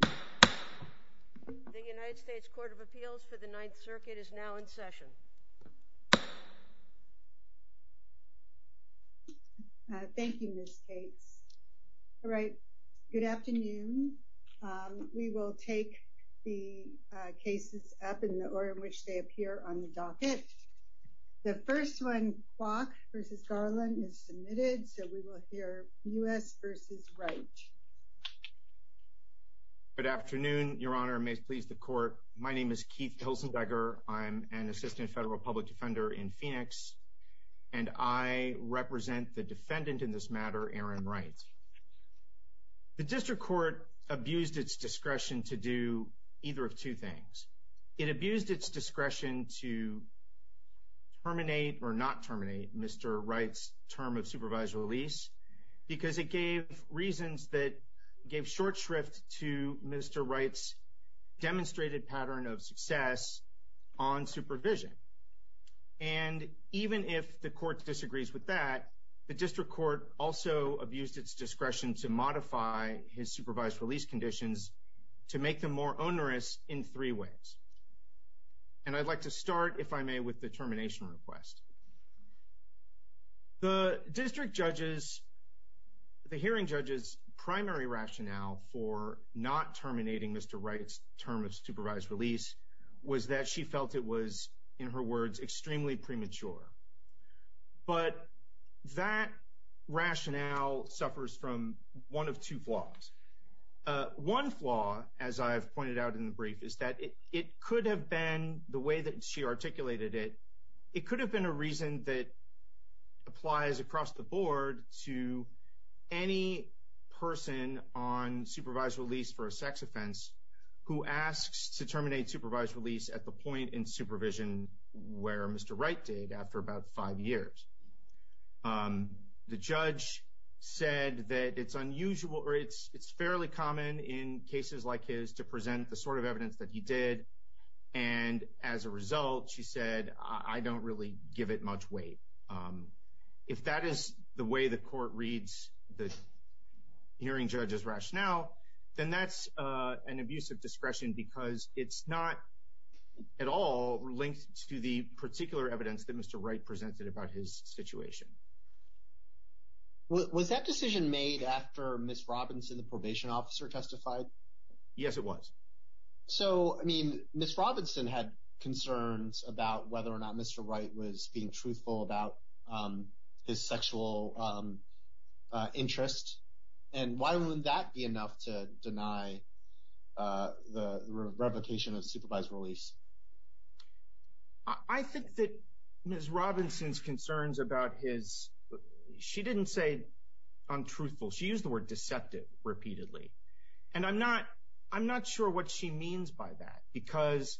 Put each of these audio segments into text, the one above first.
The United States Court of Appeals for the Ninth Circuit is now in session. Thank you, Ms. Cates. All right, good afternoon. We will take the cases up in the order in which they appear on the docket. The first one, Kwok v. Garland, is submitted, so we will hear U.S. v. Wright. Good afternoon, Your Honor, and may it please the Court. My name is Keith Hilsendecker. I'm an assistant federal public defender in Phoenix, and I represent the defendant in this matter, Aaron Wright. The district court abused its discretion to do either of two things. It abused its discretion to terminate or not terminate Mr. Wright's supervised release because it gave reasons that gave short shrift to Mr. Wright's demonstrated pattern of success on supervision. And even if the court disagrees with that, the district court also abused its discretion to modify his supervised release conditions to make them more onerous in three ways. And I'd like to start, if I may, with the termination request. The district judge's, the hearing judge's primary rationale for not terminating Mr. Wright's term of supervised release was that she felt it was, in her words, extremely premature. But that rationale suffers from one of two flaws. One flaw, as I have pointed out in the brief, is that it could have been, the way that she articulated it, it could have been a reason that applies across the board to any person on supervised release for a sex offense who asks to terminate supervised release at the point in supervision where Mr. Wright did after about five years. The judge said that it's unusual, or it's fairly common in cases like his to present the sort of evidence that he did. And as a result, she said, I don't really give it much weight. If that is the way the court reads the hearing judge's rationale, then that's an abuse of discretion because it's not at all linked to the particular evidence that Mr. Wright presented about his situation. Was that decision made after Ms. Robinson, the probation officer, testified? Yes, it was. So, I mean, Ms. Robinson had concerns about whether or not Mr. Wright was being truthful about his sexual interest. And why wouldn't that be enough to deny the revocation of supervised release? I think that Ms. Robinson's concerns about his, she didn't say untruthful. She used the word deceptive repeatedly. And I'm not sure what she means by that because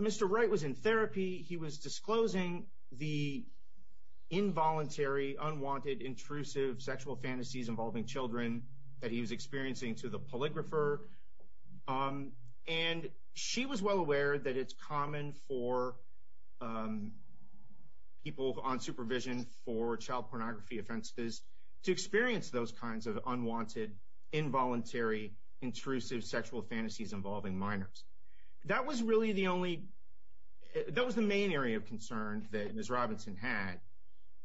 Mr. Wright was in therapy. He was disclosing the involuntary, unwanted, intrusive sexual fantasies involving children that he was experiencing to the polygrapher. And she was well aware that it's common for people on supervision for child pornography offenses to experience those kinds of unwanted, involuntary, intrusive sexual fantasies involving minors. That was really the only, that was the main area of concern that Ms. Robinson had.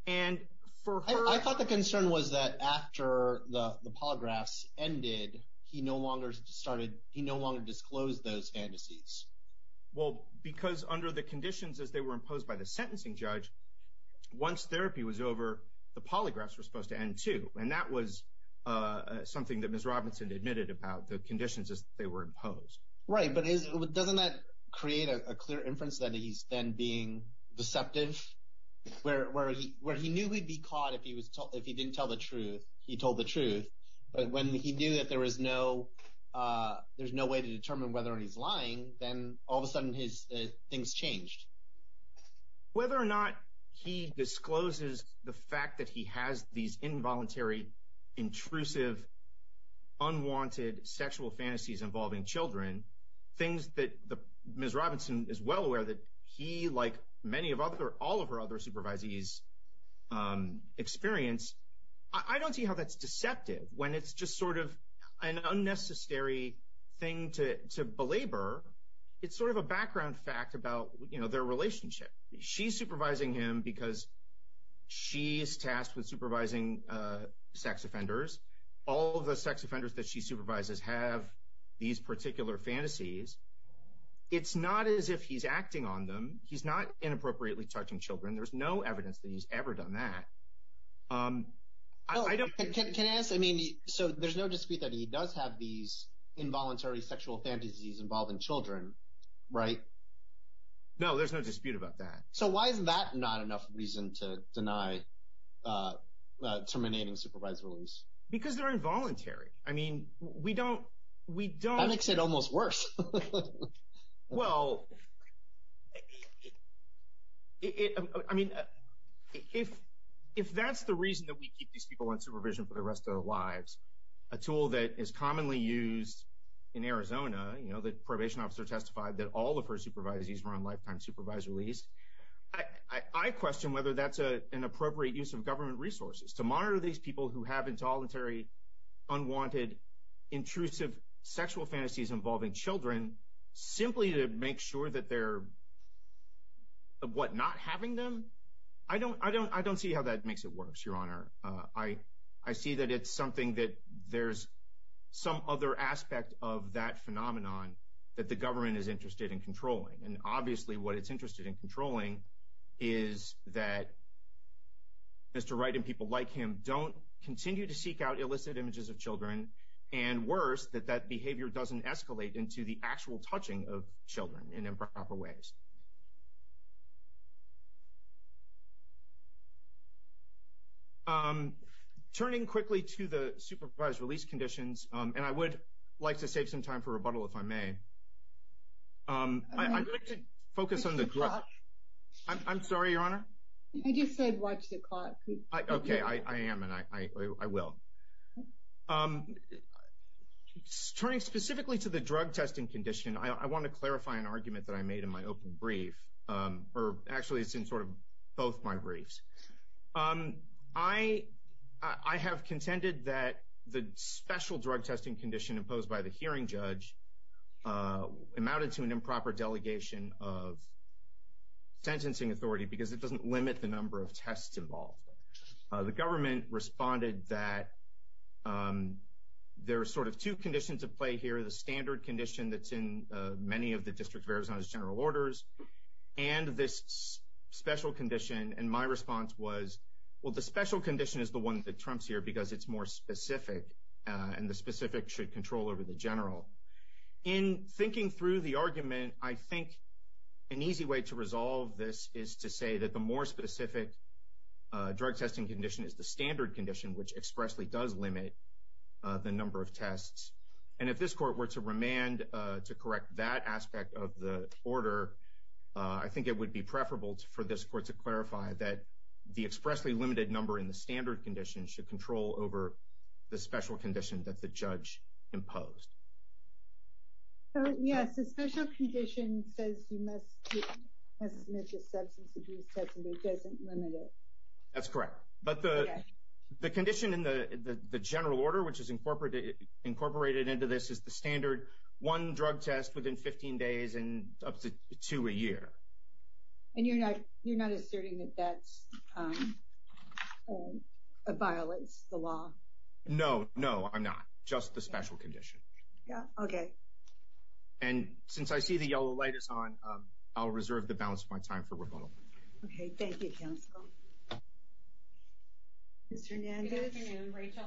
And for her I thought the concern was that after the polygraphs ended, he no longer started, he no longer disclosed those fantasies. Well, because under the conditions as they were imposed by the sentencing judge, once therapy was over, the polygraphs were supposed to end too. And that was something that Ms. Robinson admitted about the conditions as they were imposed. Right, but isn't, doesn't that create a clear inference that he's then being deceptive? Where he knew he'd be caught if he was told, if he didn't tell the truth, he told the truth. But when he knew that there was no, there's no way to determine whether or not he's lying, then all of a sudden his things changed. Whether or not he discloses the fact that he has these involuntary, intrusive, unwanted sexual fantasies involving children, things that Ms. Robinson is well aware that he, like many of other, all of her other supervisees experience, I don't see how that's deceptive when it's just sort of an unnecessary thing to belabor. It's sort of a background fact about, you know, their relationship. She's supervising him because she's tasked with supervising sex offenders. All of the sex offenders that she supervises have these particular fantasies. It's not as if he's acting on them. He's not inappropriately touching children. There's no evidence that he's ever done that. Can I ask, I mean, so there's no dispute that he does have these involuntary sexual fantasies involving children, right? No, there's no dispute about that. So why is that not enough reason to deny terminating supervise release? Because they're involuntary. I mean, we don't, we don't. That makes it almost worse. Well, I mean, if that's the reason that we keep these people in supervision for the rest of their lives, a tool that is commonly used in Arizona, you know, the probation officer testified that all of her supervisees were on lifetime supervise release. I question whether that's an appropriate use of government resources to monitor these people who have involuntary, unwanted, intrusive sexual fantasies involving children, simply to make sure that they're, what, not having them? I don't see how that makes it worse, Your Honor. I see that it's something that there's some other aspect of that phenomenon that the government is interested in controlling. And obviously, what it's interested in controlling is that Mr. Wright and people like him don't continue to seek out illicit images of children, and worse, that that behavior doesn't escalate into the actual touching of children in improper ways. Turning quickly to the supervise release conditions, and I would like to save some time for rebuttal if I may. I'd like to focus on the drug. I'm sorry, Your Honor? I just said watch the clock. Okay. I am, and I will. Turning specifically to the drug testing condition, I want to clarify an argument that I made in my open brief, or actually it's in sort of both my briefs. I have contended that the special drug testing condition imposed by the hearing judge amounted to an improper delegation of sentencing authority because it doesn't limit the number of tests involved. The government responded that there are sort of two conditions at play here, the standard condition that's in many of the District of Arizona's general orders, and this special condition. And my response was, well, the special condition is the one that trumps here because it's more specific, and the specific should control over the general. In thinking through the argument, I think an easy way to resolve this is to say that the more specific drug testing condition is the standard condition, which expressly does limit the number of tests. And if this court were to remand to correct that aspect of the order, I think it would be preferable for this court to clarify that the expressly limited number in the standard condition should control over the special condition that the judge imposed. Yes, the special condition says you must submit your substance abuse test, and it doesn't limit it. That's correct. But the condition in the general order, which is incorporated into this, is the standard one drug test within 15 days and up to two a year. And you're not asserting that that violates the law? No, no, I'm not. Just the special condition. Okay. And since I see the yellow light is on, I'll reserve the balance of my time for rebuttal. Okay. Thank you, counsel. Ms. Hernandez? Good afternoon, Rachel.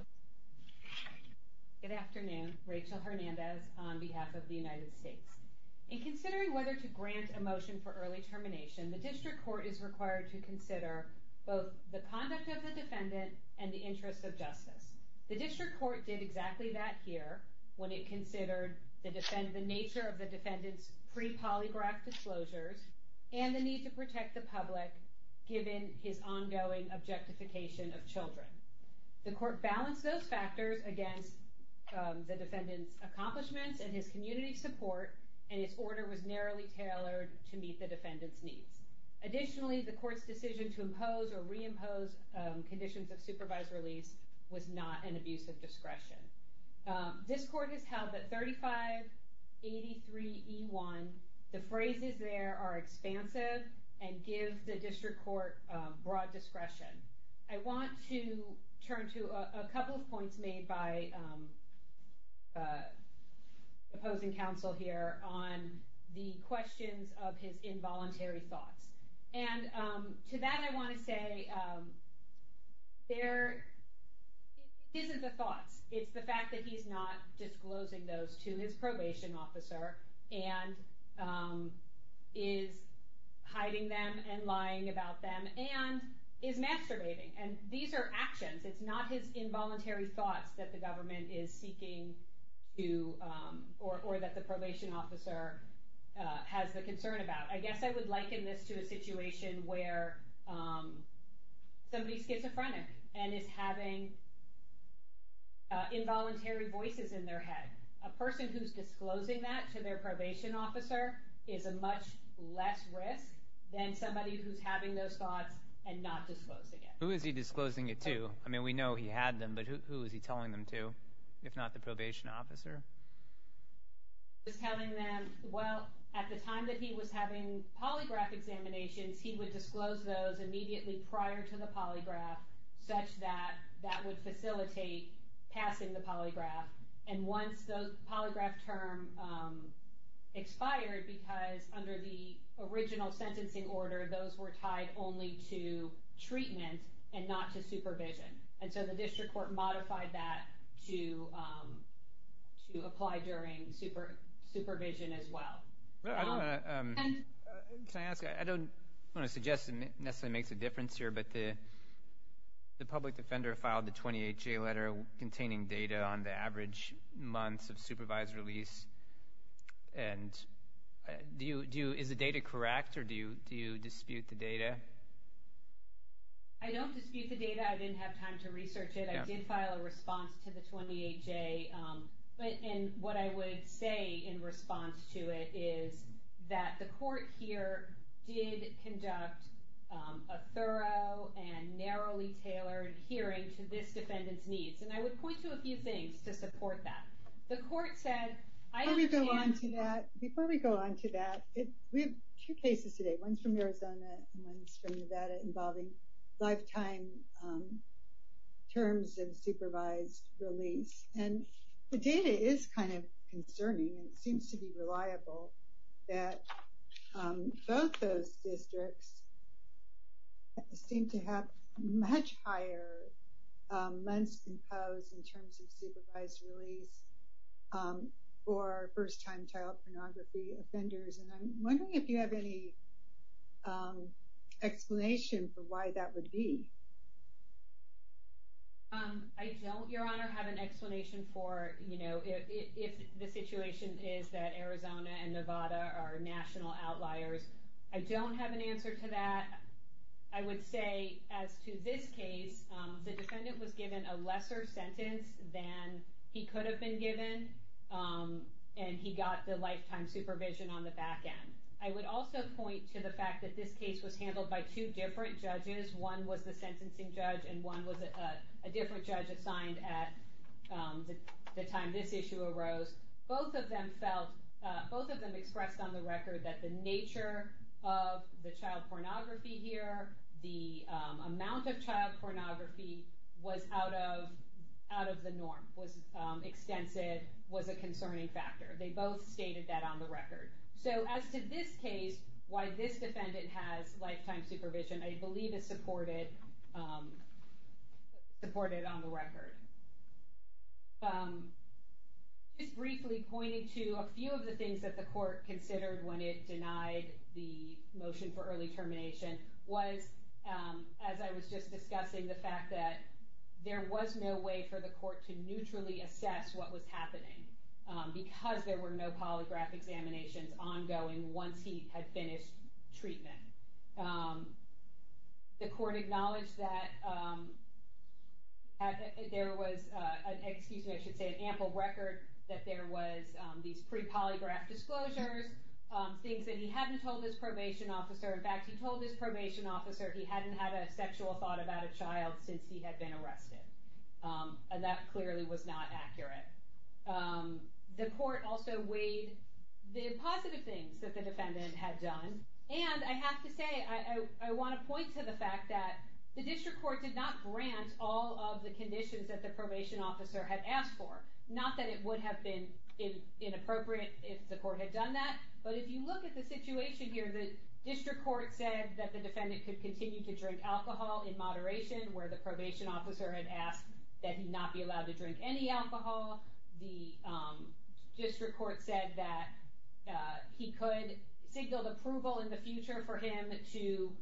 Good afternoon. Rachel Hernandez on behalf of the United States. In considering whether to grant a motion for early termination, the district court is required to consider both the conduct of the defendant and the interest of justice. The district court did exactly that here when it considered the nature of the defendant's pre-polygraphed testimony to the public, given his ongoing objectification of children. The court balanced those factors against the defendant's accomplishments and his community support, and its order was narrowly tailored to meet the defendant's needs. Additionally, the court's decision to impose or reimpose conditions of supervised release was not an abuse of discretion. This court has held that 3583E1, the phrases there are expansive and give the district court broad discretion. I want to turn to a couple of points made by the opposing counsel here on the questions of his involuntary thoughts. To that I want to say, this is the thoughts. It's the fact that he's not disclosing those to his probation officer, and is hiding them and lying about them, and is masturbating. These are actions. It's not his involuntary thoughts that the government is seeking to, or that the probation officer has the concern about. I guess I would liken this to a situation where somebody's schizophrenic and is having involuntary voices in their head. A person who's disclosing that to their probation officer is a much less risk than somebody who's having those thoughts and not disclosing it. Who is he disclosing it to? I mean, we know he had them, but who is he telling them to, if not the probation officer? He's telling them, well, at the time that he was having polygraph examinations, he would disclose those immediately prior to the polygraph, such that that would facilitate passing the polygraph. And once the polygraph term expired, because under the original sentencing order, those were tied only to treatment and not to supervision. And so the district court modified that to apply during supervision as well. Can I ask? I don't want to suggest it necessarily makes a difference here, but the public defender filed the 20HA letter containing data on the average months of supervised release. And is the data correct, or do you dispute the data? I don't dispute the data. I didn't have time to research it. I did file a response to the 20HA. And what I would say in response to it is that the court here did conduct a thorough and narrowly tailored hearing to this defendant's needs. And I would point to a few things to support that. The court said, I don't think that Before we go on to that, we have two cases today. One's from Arizona and one's from Nevada involving lifetime terms of supervised release. And the data is kind of concerning. It seems to be reliable that both those districts seem to have much higher months imposed in terms of supervised release for first-time child pornography offenders. And I'm wondering if you have any explanation for why that would be. I don't, Your Honor, have an explanation for if the situation is that Arizona and Nevada are national outliers. I don't have an answer to that. I would say as to this case, the defendant was given a lesser sentence than he could have been given. And he got the lifetime supervision on the back end. I would also point to the fact that this case was handled by two different judges. One was the sentencing judge and one was a different judge assigned at the time this issue arose. Both of them expressed on the record that the nature of the child pornography here, the amount of child pornography was out of the norm, was extensive, was a concerning factor. They both stated that on the record. So as to this case, why this defendant has lifetime supervision, I believe is supported on the record. Just briefly pointing to a few of the things that the court considered when it denied the motion for early termination was, as I was just discussing, the fact that there was no way for the court to neutrally assess what was happening because there were no polygraph examinations ongoing once he had finished treatment. The court acknowledged that there was an ample record that there was these pre-polygraph disclosures, things that he hadn't told his probation officer. In fact, he told his probation officer he hadn't had a sexual thought about a child since he had been arrested. And that clearly was not accurate. The court also weighed the positive things that the defendant had done. And I have to say, I want to point to the fact that the district court did not grant all of the conditions that the probation officer had asked for. Not that it would have been inappropriate if the court had done that, but if you look at the situation here, the district court said that the defendant could continue to drink alcohol in moderation where the probation officer had asked that he not be allowed to drink any alcohol. The district court said that he could signal approval in the future for him to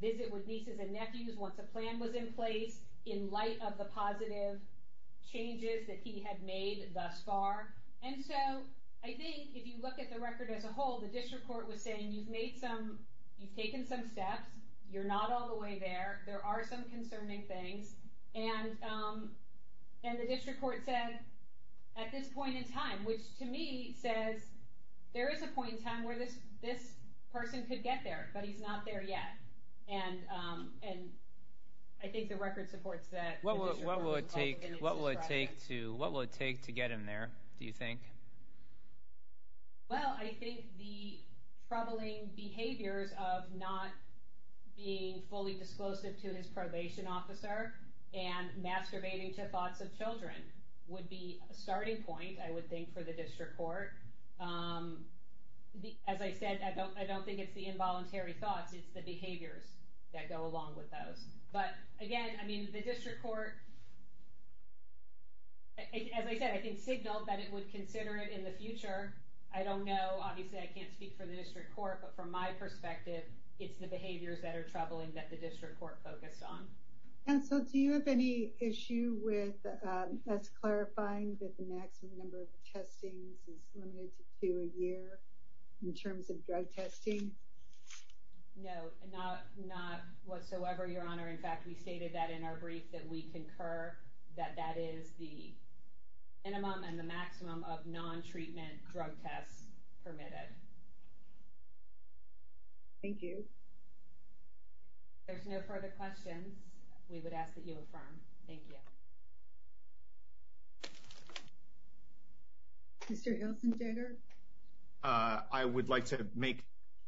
visit with nieces and nephews once a plan was in place in light of the positive changes that he had made thus far. And so I think if you look at the record as a whole, the district court was saying you've taken some steps, you're not all the way there, there are some concerning things, and the district court said at this point in time, which to me says there is a point in time where this person could get there, but he's not there yet. And I think the record supports that. What will it take to get him there, do you think? Well, I think the troubling behaviors of not being fully disclosive to his probation officer and masturbating to thoughts of children would be a starting point, I would think, for the district court. As I said, I don't think it's the involuntary thoughts, it's the behaviors that go along with those. But again, I mean, the district court, as I said, I think signaled that it would consider it in the future. I don't know, obviously I can't speak for the district court, but from my perspective, it's the behaviors that are troubling that the district court focused on. And so do you have any issue with us clarifying that the maximum number of testings is limited to a year in terms of drug testing? No, not whatsoever, Your Honor. In fact, we stated that in our brief, that we concur that that is the minimum and the maximum of non-treatment drug tests permitted. Thank you. If there's no further questions, we would ask that you affirm. Thank you. Mr. Ilsenberger? I would like to make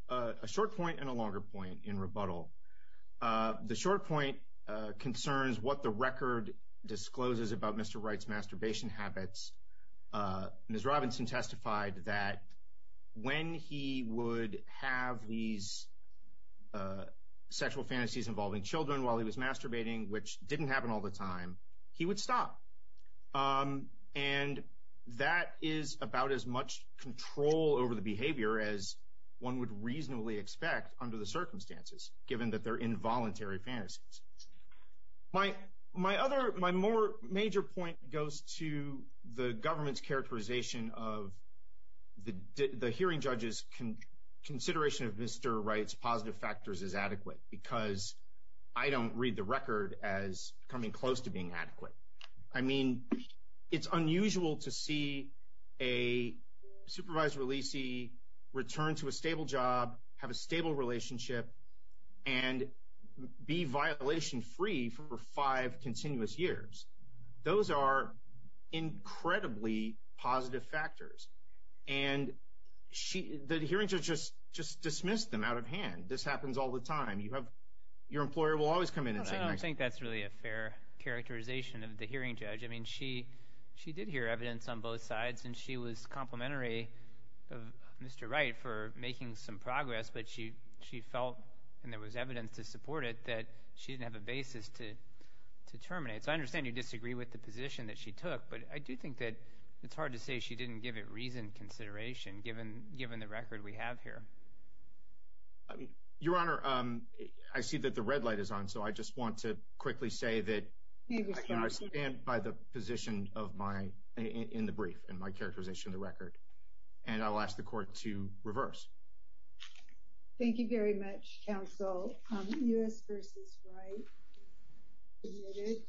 a short point and a longer point in rebuttal. The short point concerns what the record discloses about Mr. Wright's masturbation habits. Ms. Robinson testified that when he would have these sexual fantasies involving children while he was masturbating, which didn't happen all the time, he would stop. And that is about as much control over the behavior as one would reasonably expect under the circumstances, given that they're involuntary fantasies. My other, my more major point goes to the government's characterization of the hearing judge's consideration of Mr. Wright's positive factors as adequate, because I don't read the record as coming close to being adequate. I mean, it's unusual to see a supervised releasee return to a stable job, have a stable relationship, and be violation-free for five continuous years. Those are incredibly positive factors. And the hearing judge just dismissed them out of hand. This happens all the time. You have, your employer will always come in at times. I think that's really a fair characterization of the hearing judge. I mean, she did hear evidence on both sides, and she was complimentary of Mr. Wright for making some progress, but she felt, and there was evidence to support it, that she didn't have a basis to terminate. So I understand you disagree with the position that she took, but I do think that it's hard to say she didn't give it reasoned consideration given the record we have here. Your Honor, I see that the red light is on, so I just want to quickly say that I stand by the position in the brief and my characterization of the record, and I'll ask the Court to reverse. Thank you very much, Counsel. U.S. v. Wright, admitted.